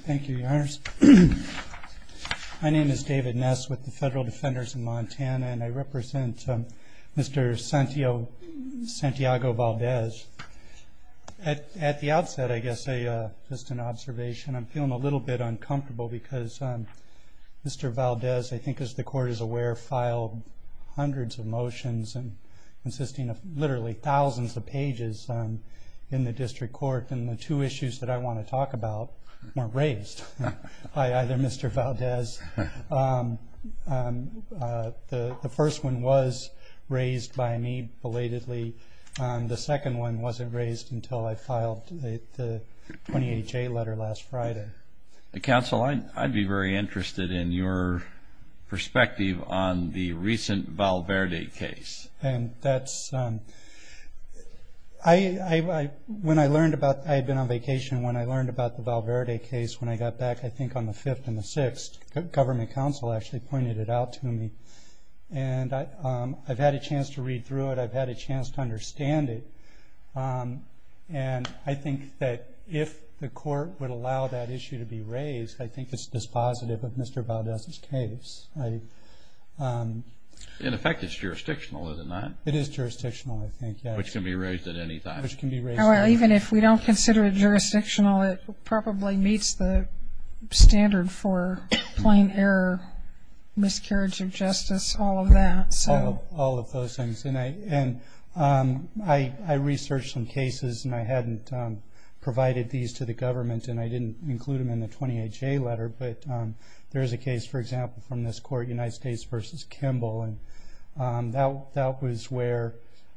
Thank you, Your Honor. My name is David Ness with the Federal Defenders of Montana, and I represent Mr. Santiago Valdez. At the outset, I guess just an observation, I'm feeling a little bit uncomfortable because Mr. Valdez, I think as the Court is aware, filed hundreds of motions consisting of literally thousands of pages in the district court. And the two issues that I want to talk about weren't raised by either Mr. Valdez. The first one was raised by me belatedly. The second one wasn't raised until I filed the 28-J letter last Friday. The counsel, I'd be very interested in your perspective on the recent Valverde case. I had been on vacation when I learned about the Valverde case. When I got back, I think on the 5th and the 6th, government counsel actually pointed it out to me. And I've had a chance to read through it. I've had a chance to understand it. And I think that if the Court would allow that issue to be raised, I think it's dispositive of Mr. Valdez's case. In effect, it's jurisdictional, isn't it? It is jurisdictional, I think. Which can be raised at any time. Even if we don't consider it jurisdictional, it probably meets the standard for plain error, miscarriage of justice, all of that. All of those things. And I researched some cases, and I hadn't provided these to the government, and I didn't include them in the 28-J letter. But there is a case, for example, from this Court, United States v. Kimball. That was where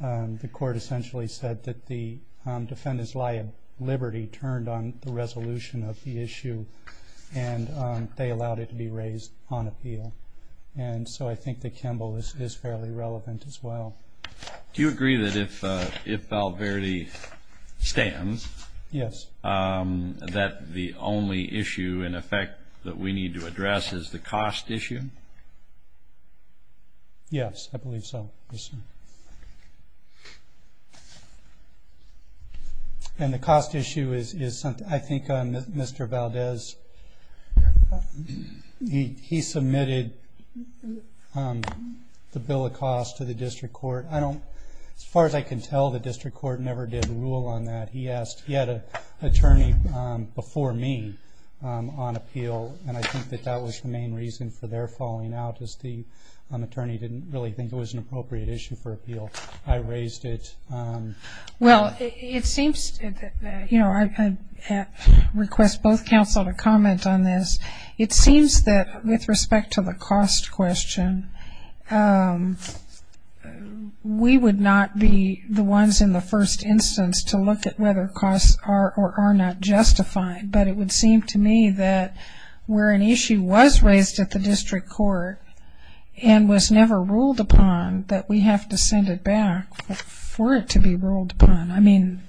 the Court essentially said that the defendants' liability turned on the resolution of the issue. And they allowed it to be raised on appeal. And so I think that Kimball is fairly relevant as well. Do you agree that if Val Verde stands, that the only issue, in effect, that we need to address is the cost issue? Yes, I believe so. Yes, sir. And the cost issue is something I think Mr. Valdez, he submitted the bill of cost to the District Court. As far as I can tell, the District Court never did rule on that. He had an attorney before me on appeal, and I think that that was the main reason for their falling out, because the attorney didn't really think it was an appropriate issue for appeal. I raised it. Well, it seems, you know, I request both counsel to comment on this. It seems that with respect to the cost question, we would not be the ones in the first instance to look at whether costs are or are not justified. But it would seem to me that where an issue was raised at the District Court and was never ruled upon, that we have to send it back for it to be ruled upon. I mean,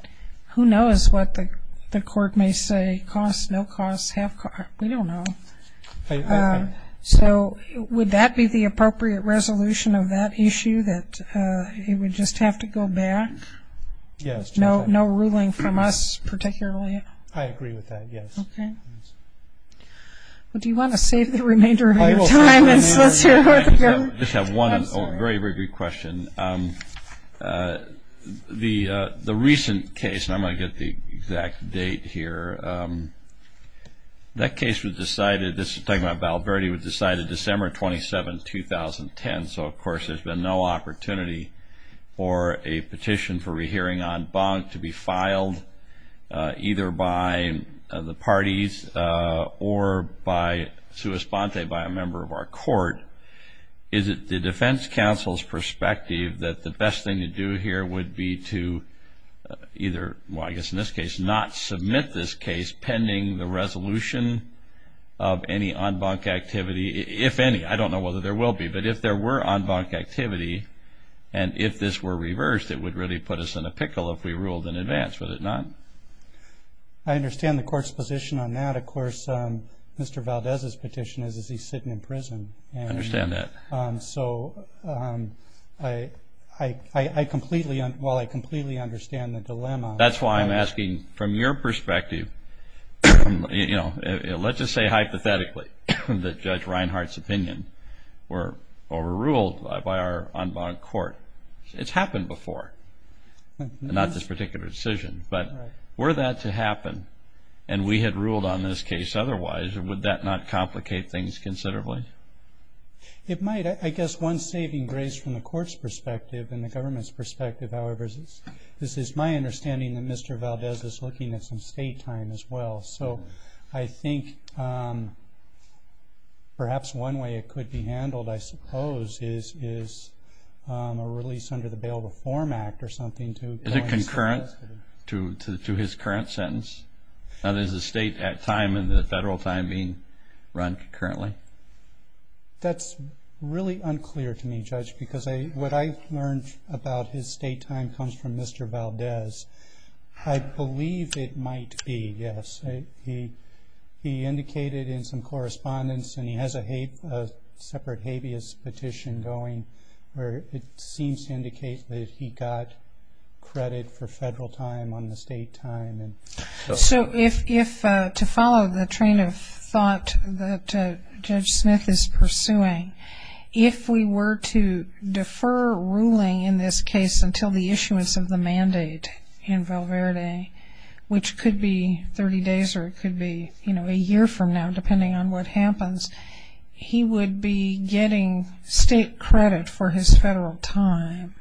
who knows what the court may say, cost, no cost, half cost. We don't know. So would that be the appropriate resolution of that issue, that it would just have to go back? Yes. No ruling from us particularly? I agree with that, yes. Okay. Well, do you want to save the remainder of your time and solicit a court opinion? I just have one very, very good question. The recent case, and I'm going to get the exact date here, that case was decided, this is talking about Val Verde, was decided December 27, 2010. So, of course, there's been no opportunity for a petition for rehearing en banc to be filed either by the parties or by sua sponte, by a member of our court. Is it the defense counsel's perspective that the best thing to do here would be to either, well, I guess in this case, not submit this case pending the resolution of any en banc activity, if any? I don't know whether there will be. But if there were en banc activity and if this were reversed, it would really put us in a pickle if we ruled in advance, would it not? I understand the court's position on that. Of course, Mr. Valdez's petition is, is he sitting in prison? I understand that. So I completely, well, I completely understand the dilemma. That's why I'm asking from your perspective, you know, let's just say hypothetically that Judge Reinhart's opinion were overruled by our en banc court. It's happened before, not this particular decision. But were that to happen and we had ruled on this case otherwise, would that not complicate things considerably? It might. I guess one saving grace from the court's perspective and the government's perspective, however, this is my understanding that Mr. Valdez is looking at some state time as well. So I think perhaps one way it could be handled, I suppose, is a release under the Bail Reform Act or something. Is it concurrent to his current sentence? Is the state time and the federal time being run concurrently? That's really unclear to me, Judge, because what I've learned about his state time comes from Mr. Valdez. I believe it might be, yes. He indicated in some correspondence, and he has a separate habeas petition going, where it seems to indicate that he got credit for federal time on the state time. So if, to follow the train of thought that Judge Smith is pursuing, if we were to defer ruling in this case until the issuance of the mandate in Val Verde, which could be 30 days or it could be a year from now depending on what happens, he would be getting state credit for his federal time.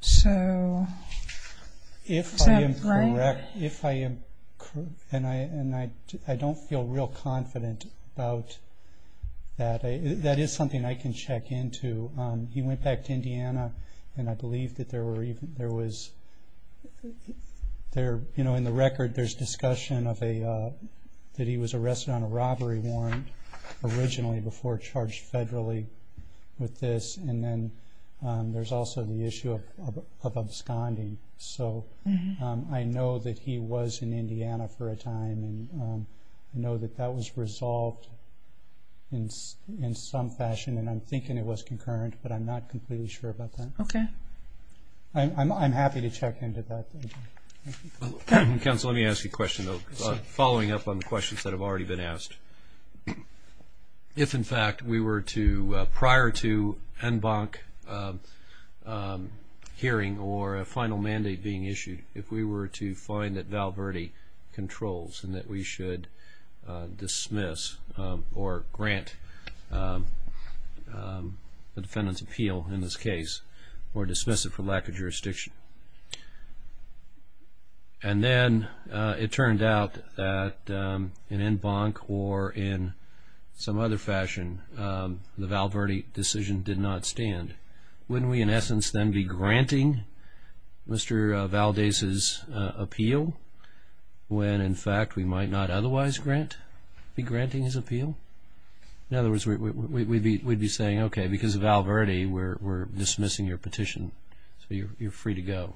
So is that right? If I am correct, and I don't feel real confident about that, that is something I can check into. He went back to Indiana, and I believe that there was, in the record, there's discussion that he was arrested on a robbery warrant originally before charged federally with this. And then there's also the issue of absconding. So I know that he was in Indiana for a time, and I know that that was resolved in some fashion, and I'm thinking it was concurrent, but I'm not completely sure about that. Okay. I'm happy to check into that. Counsel, let me ask you a question, though, following up on the questions that have already been asked. If, in fact, we were to, prior to en banc hearing or a final mandate being issued, if we were to find that Val Verde controls and that we should dismiss or grant the defendant's appeal in this case or dismiss it for lack of jurisdiction, and then it turned out that in en banc or in some other fashion the Val Verde decision did not stand, wouldn't we, in essence, then be granting Mr. Valdez's appeal when, in fact, we might not otherwise be granting his appeal? In other words, we'd be saying, okay, because of Val Verde we're dismissing your petition, so you're free to go.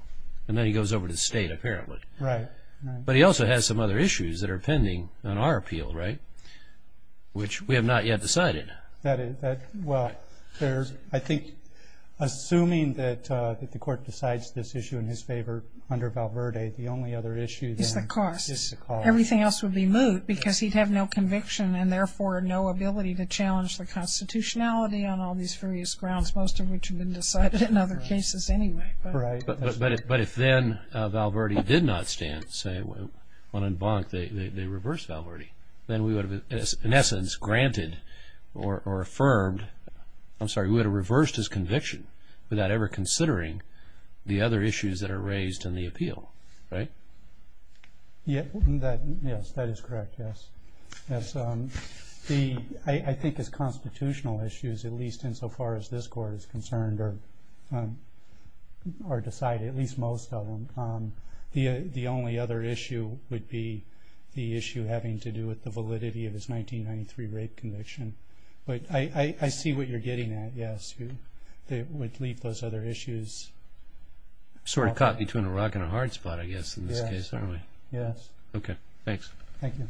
And then he goes over to state, apparently. Right. But he also has some other issues that are pending on our appeal, right, which we have not yet decided. Well, I think assuming that the court decides this issue in his favor under Val Verde, the only other issue then is the cost. Everything else would be moot because he'd have no conviction and therefore no ability to challenge the constitutionality on all these various grounds, most of which have been decided in other cases anyway. Right. But if then Val Verde did not stand, say, on en banc, they reversed Val Verde, then we would have, in essence, granted or affirmed, I'm sorry, we would have reversed his conviction without ever considering the other issues that are raised in the appeal, right? Yes, that is correct, yes. I think as constitutional issues, at least insofar as this court is concerned or decided, at least most of them, the only other issue would be the issue having to do with the validity of his 1993 rape conviction. But I see what you're getting at, yes. It would leave those other issues. Sort of caught between a rock and a hard spot, I guess, in this case, aren't we? Yes. Okay. Thanks. Thank you.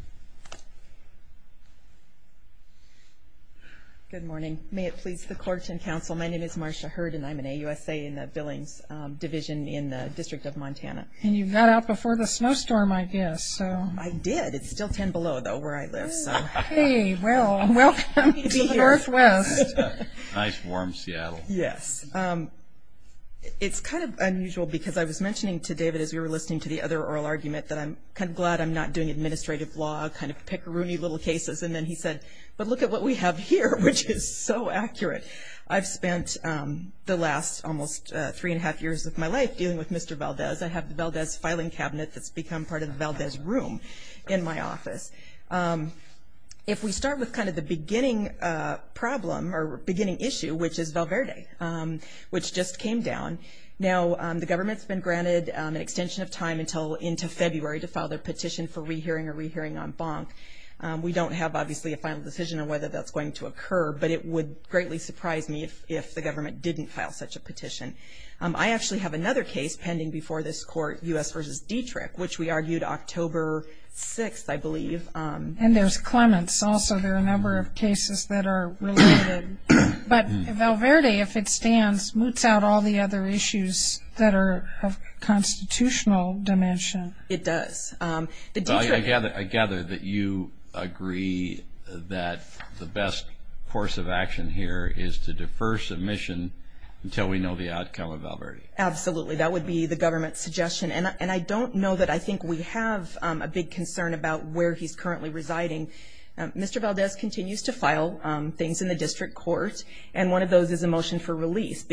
Good morning. May it please the court and counsel, my name is Marcia Hurd, and I'm an AUSA in the Billings Division in the District of Montana. And you got out before the snowstorm, I guess, so. I did. It's still ten below, though, where I live, so. Hey, well, welcome to the Northwest. Nice, warm Seattle. Yes. It's kind of unusual because I was mentioning to David as we were listening to the other oral argument that I'm kind of glad I'm not doing administrative law, kind of pickeroony little cases. And then he said, but look at what we have here, which is so accurate. I've spent the last almost three-and-a-half years of my life dealing with Mr. Valdez. I have the Valdez filing cabinet that's become part of the Valdez room in my office. If we start with kind of the beginning problem or beginning issue, which is Valverde, which just came down. Now, the government's been granted an extension of time until into February to file their petition for rehearing or rehearing en banc. We don't have, obviously, a final decision on whether that's going to occur, but it would greatly surprise me if the government didn't file such a petition. I actually have another case pending before this court, U.S. v. Dietrich, which we argued October 6th, I believe. And there's Clements also. There are a number of cases that are related. But Valverde, if it stands, moots out all the other issues that are of constitutional dimension. It does. I gather that you agree that the best course of action here is to defer submission until we know the outcome of Valverde. Absolutely. That would be the government's suggestion. And I don't know that I think we have a big concern about where he's currently residing. Mr. Valdez continues to file things in the district court, and one of those is a motion for release.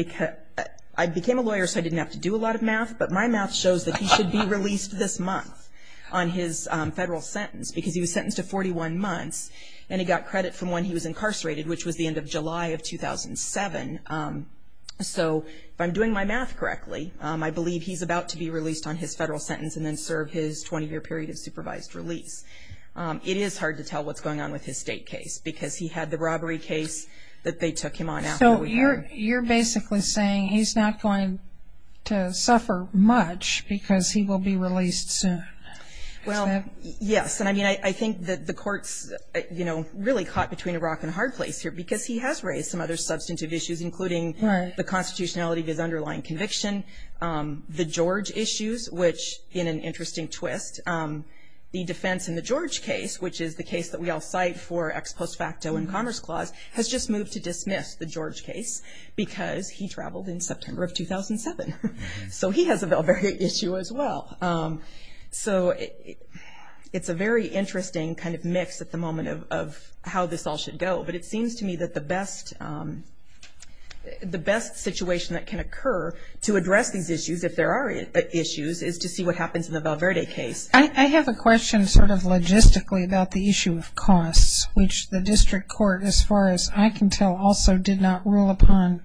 I became a lawyer so I didn't have to do a lot of math, but my math shows that he should be released this month on his federal sentence, because he was sentenced to 41 months, and he got credit from when he was incarcerated, which was the end of July of 2007. So if I'm doing my math correctly, I believe he's about to be released on his federal sentence and then serve his 20-year period of supervised release. It is hard to tell what's going on with his state case, because he had the robbery case that they took him on. So you're basically saying he's not going to suffer much because he will be released soon. Well, yes. I mean, I think that the court's, you know, really caught between a rock and a hard place here, because he has raised some other substantive issues, including the constitutionality of his underlying conviction, the George issues, which, in an interesting twist, the defense in the George case, which is the case that we all cite for ex post facto in Commerce Clause, has just moved to dismiss the George case because he traveled in September of 2007. So he has a Val Verde issue as well. So it's a very interesting kind of mix at the moment of how this all should go, but it seems to me that the best situation that can occur to address these issues, if there are issues, is to see what happens in the Val Verde case. I have a question sort of logistically about the issue of costs, which the district court, as far as I can tell, also did not rule upon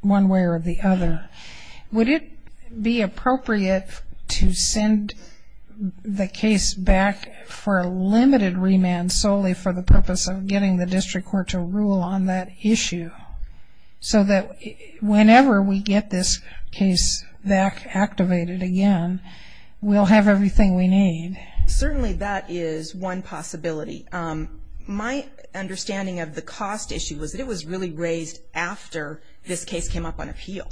one way or the other. Would it be appropriate to send the case back for a limited remand solely for the purpose of getting the district court to rule on that issue so that whenever we get this case back activated again, we'll have everything we need? Certainly that is one possibility. My understanding of the cost issue was that it was really raised after this case came up on appeal.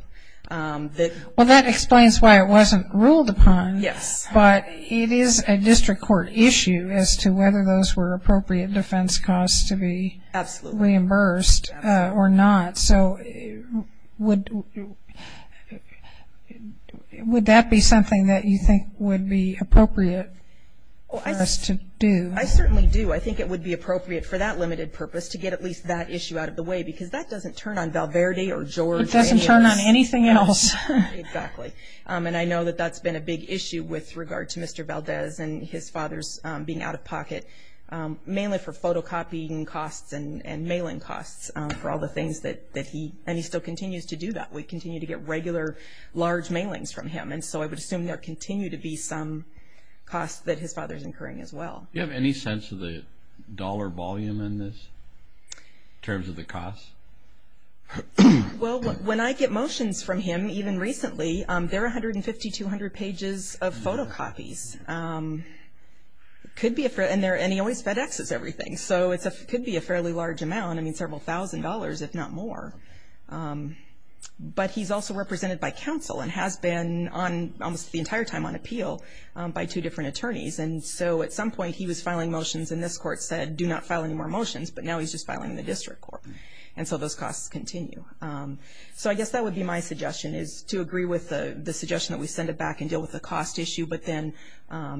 Well, that explains why it wasn't ruled upon. Yes. But it is a district court issue as to whether those were appropriate defense costs to be reimbursed or not. So would that be something that you think would be appropriate for us to do? I certainly do. I think it would be appropriate for that limited purpose to get at least that issue out of the way because that doesn't turn on Val Verde or George. It doesn't turn on anything else. Exactly. And I know that that's been a big issue with regard to Mr. Valdez and his father's being out of pocket, mainly for photocopying costs and mailing costs for all the things that he, and he still continues to do that. We continue to get regular large mailings from him, and so I would assume there continue to be some costs that his father is incurring as well. Do you have any sense of the dollar volume in this in terms of the costs? Well, when I get motions from him, even recently, they're 150, 200 pages of photocopies. And he always FedExes everything, so it could be a fairly large amount, I mean several thousand dollars if not more. But he's also represented by counsel and has been almost the entire time on appeal by two different attorneys. And so at some point he was filing motions and this court said, do not file any more motions, but now he's just filing the district court. And so those costs continue. So I guess that would be my suggestion is to agree with the suggestion that we send it back and deal with the cost issue, but then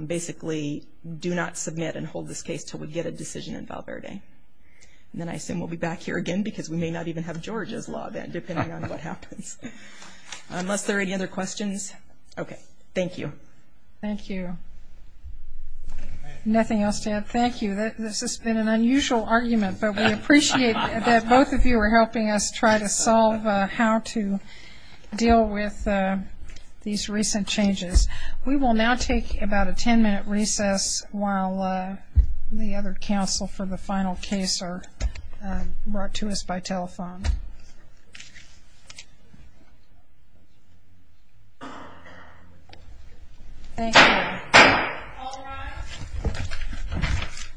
basically do not submit and hold this case until we get a decision in Val Verde. And then I assume we'll be back here again because we may not even have Georgia's law then, depending on what happens. Unless there are any other questions? Okay. Thank you. Thank you. Nothing else to add? Thank you. This has been an unusual argument, but we appreciate that both of you are helping us try to solve how to deal with these recent changes. We will now take about a ten-minute recess while the other counsel for the final case are brought to us by telephone. Thank you. All rise.